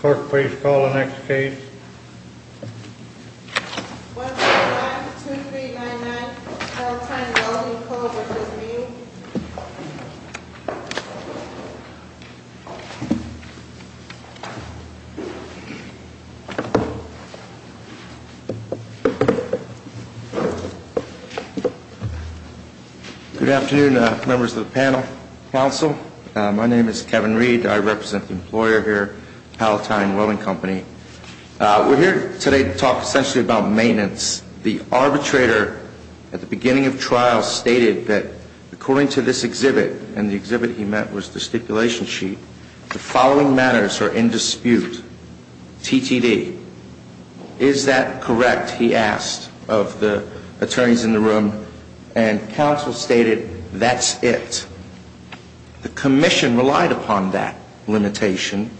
Clerk, please call the next case. 145-2399, Palatine Welding Co. v. Meade Good afternoon, members of the panel, counsel. My name is Kevin Reed. I represent the employer here, Palatine Welding Company. We're here today to talk essentially about maintenance. As the arbitrator at the beginning of trial stated that according to this exhibit, and the exhibit he meant was the stipulation sheet, the following matters are in dispute. TTD. Is that correct, he asked of the attorneys in the room, and counsel stated, that's it. The commission relied upon that limitation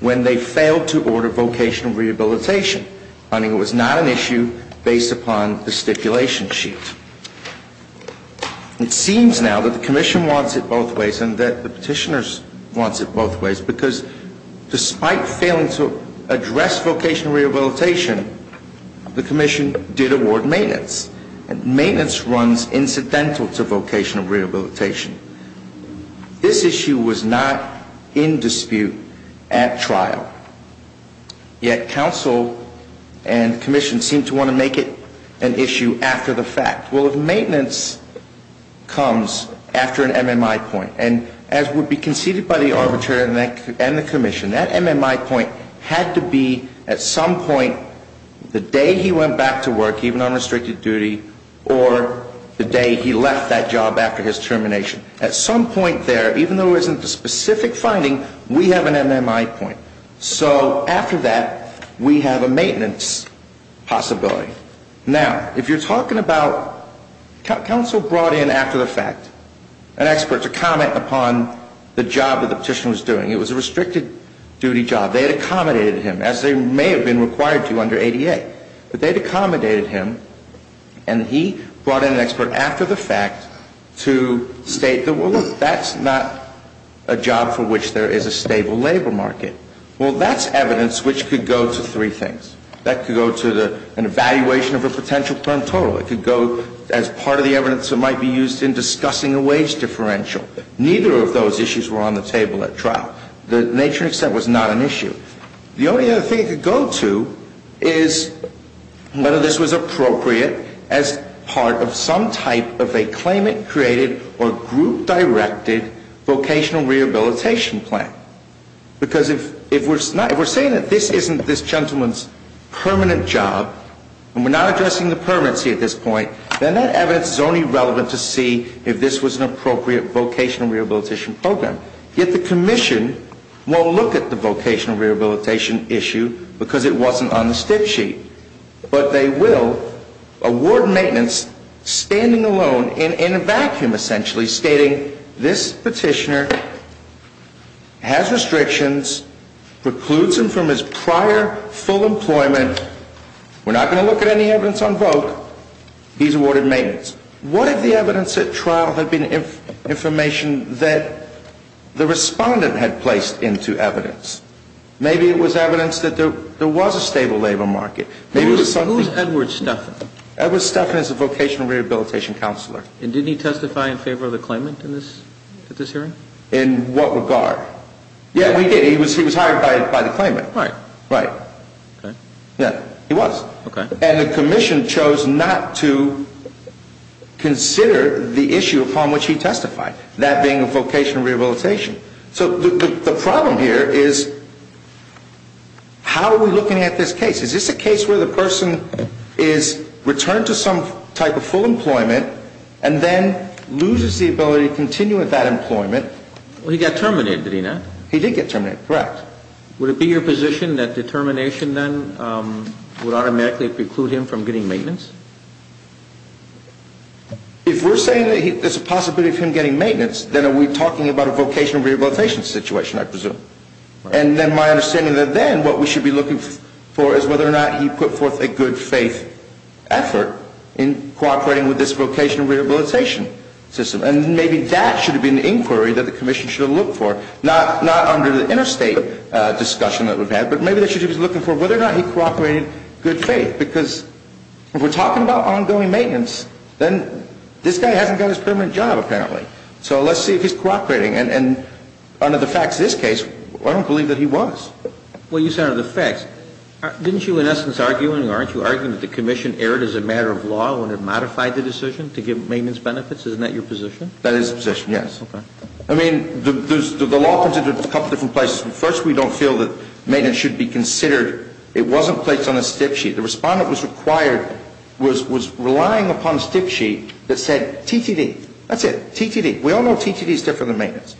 when they failed to order vocational rehabilitation. It was not an issue based upon the stipulation sheet. It seems now that the commission wants it both ways, and that the petitioners want it both ways, because despite failing to address vocational rehabilitation, the commission did award maintenance. Maintenance runs incidental to vocational rehabilitation. This issue was not in dispute at trial, yet counsel and commission seemed to want to make it an issue after the fact. Well, if maintenance comes after an MMI point, and as would be conceded by the arbitrator and the commission, that MMI point had to be at some point the day he went back to work, even on restricted duty, or the day he left that job after his termination. At some point there, even though there isn't a specific finding, we have an MMI point. So after that, we have a maintenance possibility. Now, if you're talking about counsel brought in after the fact, an expert to comment upon the job that the petitioner was doing, it was a restricted duty job. They had accommodated him, as they may have been required to under ADA. But they had accommodated him, and he brought in an expert after the fact to state that, well, look, that's not a job for which there is a stable labor market. Well, that's evidence which could go to three things. That could go to an evaluation of a potential term total. It could go as part of the evidence that might be used in discussing a wage differential. Neither of those issues were on the table at trial. The nature and extent was not an issue. The only other thing it could go to is whether this was appropriate as part of some type of a claimant-created or group-directed vocational rehabilitation plan. Because if we're saying that this isn't this gentleman's permanent job, and we're not addressing the permanency at this point, then that evidence is only relevant to see if this was an appropriate vocational rehabilitation program. Yet the commission won't look at the vocational rehabilitation issue because it wasn't on the stick sheet. But they will award maintenance standing alone in a vacuum, essentially, stating this petitioner has restrictions, precludes him from his prior full employment. We're not going to look at any evidence on vote. He's awarded maintenance. What if the evidence at trial had been information that the respondent had placed into evidence? Maybe it was evidence that there was a stable labor market. Who's Edward Stephan? Edward Stephan is a vocational rehabilitation counselor. And didn't he testify in favor of the claimant at this hearing? In what regard? Yeah, we did. He was hired by the claimant. Right. Right. Okay. Yeah, he was. Okay. And the commission chose not to consider the issue upon which he testified, that being a vocational rehabilitation. So the problem here is how are we looking at this case? Is this a case where the person is returned to some type of full employment and then loses the ability to continue with that employment? Well, he got terminated, did he not? He did get terminated. Correct. Would it be your position that determination then would automatically preclude him from getting maintenance? If we're saying that there's a possibility of him getting maintenance, then are we talking about a vocational rehabilitation situation, I presume. And then my understanding then, what we should be looking for is whether or not he put forth a good faith effort in cooperating with this vocational rehabilitation system. And maybe that should have been the inquiry that the commission should have looked for. Not under the interstate discussion that we've had, but maybe they should have been looking for whether or not he cooperated in good faith. Because if we're talking about ongoing maintenance, then this guy hasn't got his permanent job, apparently. So let's see if he's cooperating. And under the facts of this case, I don't believe that he was. Well, you said under the facts. Didn't you in essence argue and aren't you arguing that the commission erred as a matter of law when it modified the decision to give maintenance benefits? Isn't that your position? That is the position, yes. Okay. I mean, the law comes into a couple different places. First, we don't feel that maintenance should be considered. It wasn't placed on a stick sheet. The respondent was required, was relying upon a stick sheet that said TTD. That's it, TTD. We all know TTD is different than maintenance.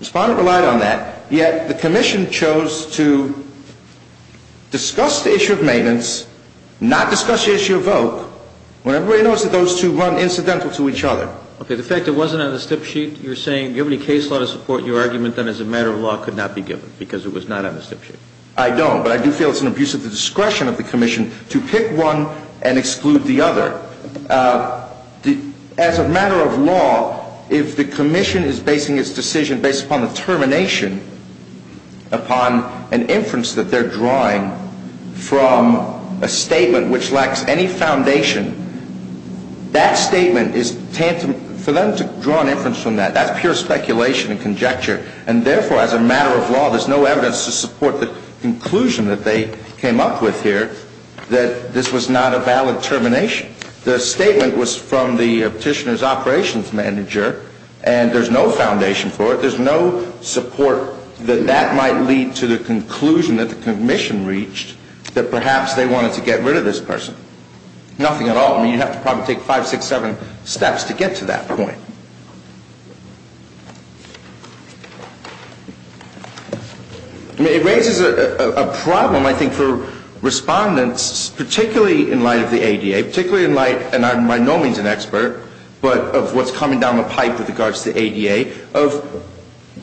Respondent relied on that, yet the commission chose to discuss the issue of maintenance, not discuss the issue of voc, when everybody knows that those two run incidental to each other. Okay. The fact it wasn't on the stick sheet, you're saying, do you have any case law to support your argument that as a matter of law could not be given because it was not on the stick sheet? I don't. But I do feel it's an abuse of the discretion of the commission to pick one and exclude the other. As a matter of law, if the commission is basing its decision based upon the termination, upon an inference that they're drawing from a statement which lacks any foundation, that statement is tantamount for them to draw an inference from that. That's pure speculation and conjecture. And therefore, as a matter of law, there's no evidence to support the conclusion that they came up with here that this was not a valid termination. The statement was from the petitioner's operations manager, and there's no foundation for it. There's no support that that might lead to the conclusion that the commission reached that perhaps they wanted to get rid of this person. Nothing at all. I mean, you'd have to probably take five, six, seven steps to get to that point. I mean, it raises a problem, I think, for respondents, particularly in light of the ADA, particularly in light, and I'm by no means an expert, but of what's coming down the pipe with regards to the ADA, of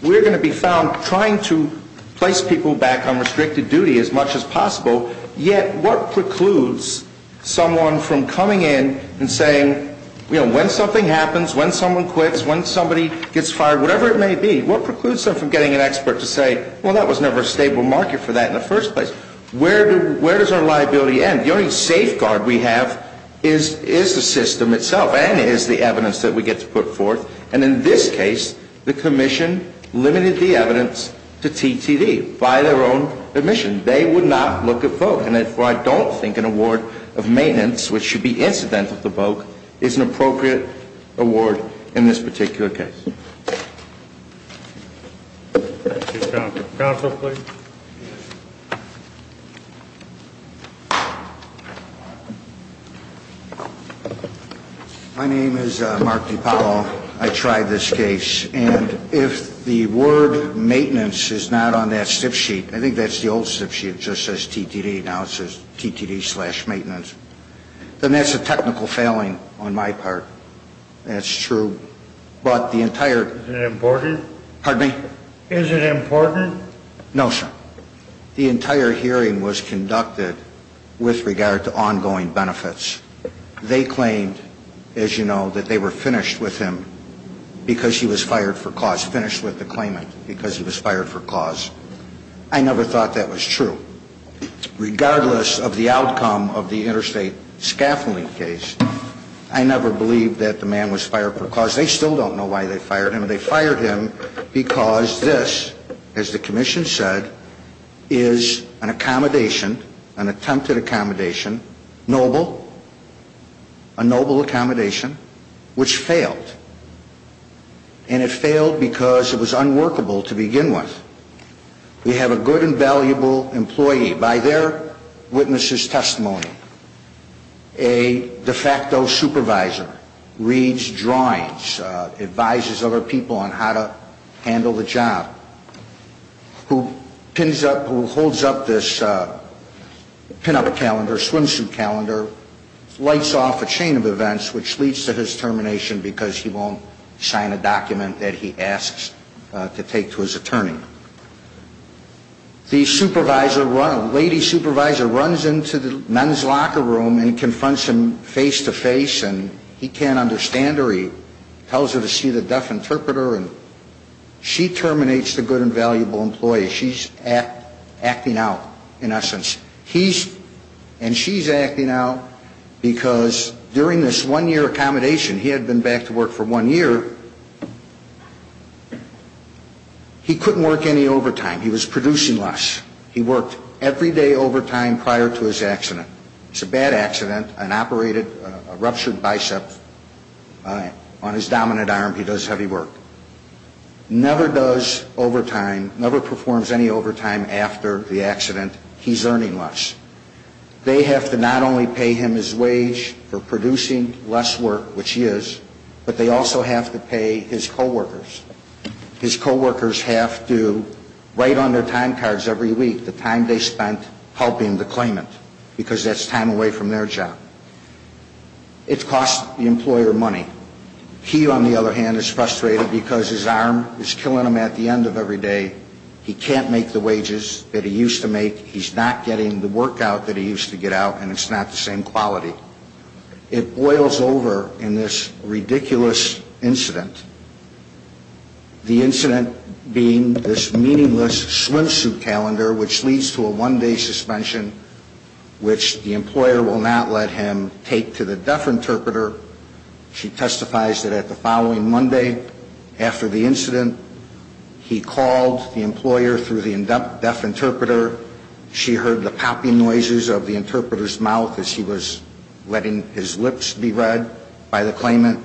we're going to be found trying to place people back on restricted duty as much as possible. Yet what precludes someone from coming in and saying, you know, when something happens, when someone quits, when somebody gets fired, whatever it may be, what precludes them from getting an expert to say, well, that was never a stable market for that in the first place? Where does our liability end? The only safeguard we have is the system itself and is the evidence that we get to put forth. And in this case, the commission limited the evidence to TTD by their own admission. They would not look at Vogue. And therefore, I don't think an award of maintenance, which should be incident of the Vogue, is an appropriate award in this particular case. Counsel, please. My name is Mark DiPaolo. I tried this case. And if the word maintenance is not on that slip sheet, I think that's the old slip sheet. It just says TTD. Now it says TTD slash maintenance. Then that's a technical failing on my part. That's true. But the entire... Is it important? Pardon me? Is it important? No, sir. The entire hearing was conducted with regard to ongoing benefits. They claimed, as you know, that they were finished with him because he was fired for cause. Finished with the claimant because he was fired for cause. I never thought that was true. Regardless of the outcome of the interstate scaffolding case, I never believed that the man was fired for cause. They still don't know why they fired him. Because this, as the commission said, is an accommodation, an attempted accommodation, noble, a noble accommodation, which failed. And it failed because it was unworkable to begin with. We have a good and valuable employee. By their witness's testimony, a de facto supervisor reads drawings, advises other people on how to handle the job, who holds up this pin-up calendar, swimsuit calendar, lights off a chain of events, which leads to his termination because he won't sign a document that he asks to take to his attorney. The supervisor, a lady supervisor, runs into the nun's locker room and confronts him face-to-face. And he can't understand her. He tells her to see the deaf interpreter. And she terminates the good and valuable employee. She's acting out, in essence. And she's acting out because during this one-year accommodation, he had been back to work for one year, he couldn't work any overtime. He was producing less. He worked every day overtime prior to his accident. It's a bad accident, an operated, a ruptured bicep on his dominant arm. He does heavy work. Never does overtime, never performs any overtime after the accident. He's earning less. They have to not only pay him his wage for producing less work, which he is, but they also have to pay his coworkers. His coworkers have to write on their time cards every week the time they spent helping the claimant because that's time away from their job. It costs the employer money. He, on the other hand, is frustrated because his arm is killing him at the end of every day. He can't make the wages that he used to make. He's not getting the work out that he used to get out, and it's not the same quality. It boils over in this ridiculous incident, the incident being this meaningless swimsuit calendar, which leads to a one-day suspension, which the employer will not let him take to the deaf interpreter. She testifies that at the following Monday after the incident, he called the employer through the deaf interpreter. She heard the popping noises of the interpreter's mouth as he was letting his lips be read by the claimant.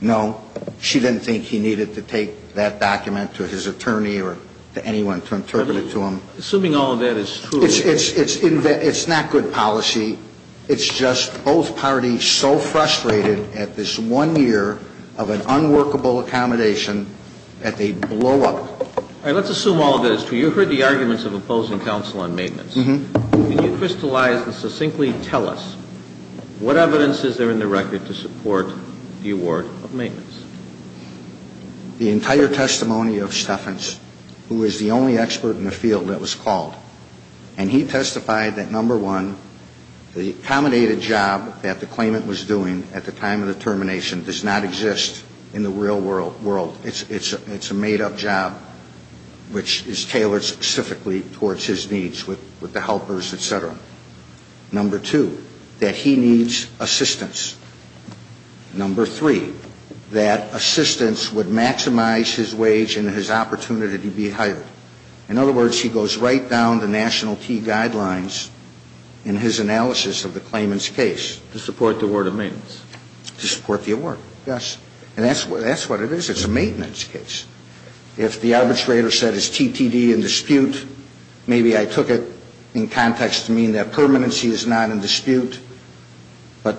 No, she didn't think he needed to take that document to his attorney or to anyone to interpret it to him. Assuming all of that is true. It's not good policy. It's just both parties so frustrated at this one year of an unworkable accommodation that they blow up. All right. Let's assume all of that is true. You heard the arguments of opposing counsel on maintenance. Can you crystallize and succinctly tell us what evidence is there in the record to support the award of maintenance? The entire testimony of Steffens, who is the only expert in the field that was called, and he testified that, number one, the accommodated job that the claimant was doing at the time of the termination does not exist in the real world. It's a made-up job which is tailored specifically towards his needs with the helpers, et cetera. Number two, that he needs assistance. Number three, that assistance would maximize his wage and his opportunity to be hired. In other words, he goes right down to national key guidelines in his analysis of the claimant's case. To support the award of maintenance. To support the award, yes. And that's what it is. It's a maintenance case. If the arbitrator said it's TTD in dispute, maybe I took it in context to mean that permanency is not in dispute. But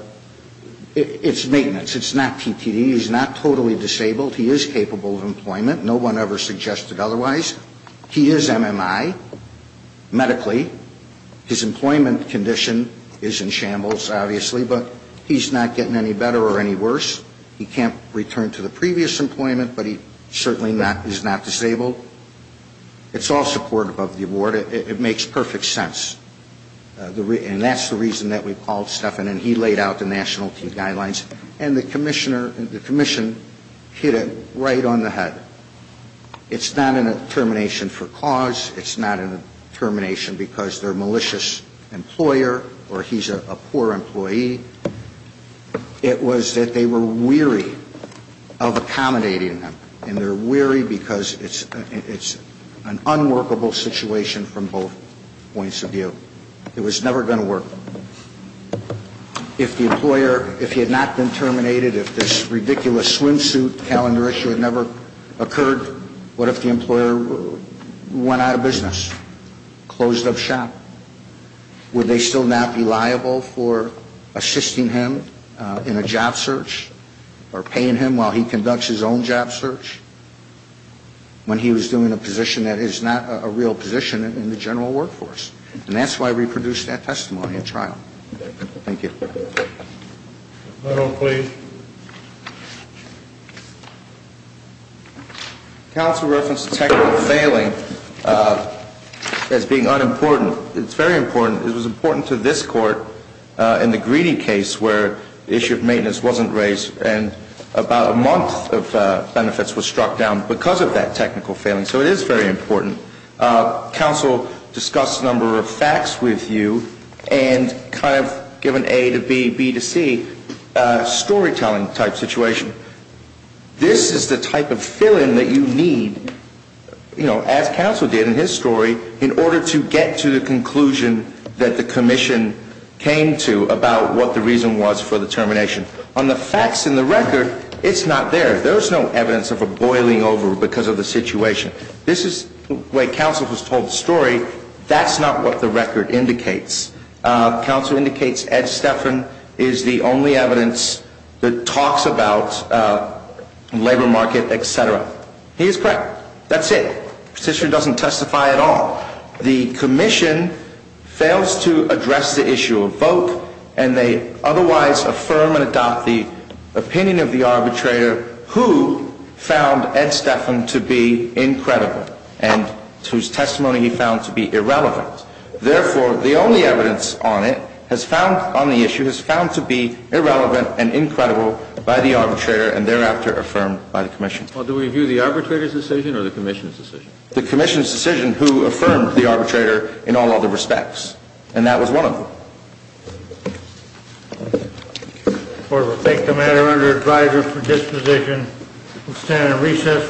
it's maintenance. It's not TTD. He's not totally disabled. He is capable of employment. No one ever suggested otherwise. He is MMI medically. His employment condition is in shambles, obviously, but he's not getting any better or any worse. He can't return to the previous employment, but he certainly is not disabled. It's all supportive of the award. It makes perfect sense. And that's the reason that we called Stephan, and he laid out the national key guidelines. And the commissioner, the commission hit it right on the head. It's not a determination for cause. It's not a determination because they're a malicious employer or he's a poor employee. It was that they were weary of accommodating him. And they're weary because it's an unworkable situation from both points of view. It was never going to work. If the employer, if he had not been terminated, if this ridiculous swimsuit calendar issue had never occurred, what if the employer went out of business, closed up shop? Would they still not be liable for assisting him in a job search or paying him while he conducts his own job search when he was doing a position that is not a real position in the general workforce? And that's why we produced that testimony at trial. Thank you. The medal, please. Counsel referenced technical failing as being unimportant. It's very important. It was important to this court in the Greedy case where the issue of maintenance wasn't raised, and about a month of benefits was struck down because of that technical failing. So it is very important. Counsel discussed a number of facts with you and kind of given A to B, B to C, a storytelling-type situation. This is the type of fill-in that you need, you know, as counsel did in his story, in order to get to the conclusion that the commission came to about what the reason was for the termination. On the facts in the record, it's not there. There's no evidence of a boiling over because of the situation. This is the way counsel has told the story. That's not what the record indicates. Counsel indicates Ed Stephan is the only evidence that talks about labor market, et cetera. He is correct. That's it. The petitioner doesn't testify at all. The commission fails to address the issue of Voke, and they otherwise affirm and adopt the opinion of the arbitrator who found Ed Stephan to be incredible and whose testimony he found to be irrelevant. Therefore, the only evidence on it has found on the issue has found to be irrelevant and incredible by the arbitrator and thereafter affirmed by the commission. Well, do we view the arbitrator's decision or the commission's decision? The commission's decision who affirmed the arbitrator in all other respects, and that was one of them. Thank you.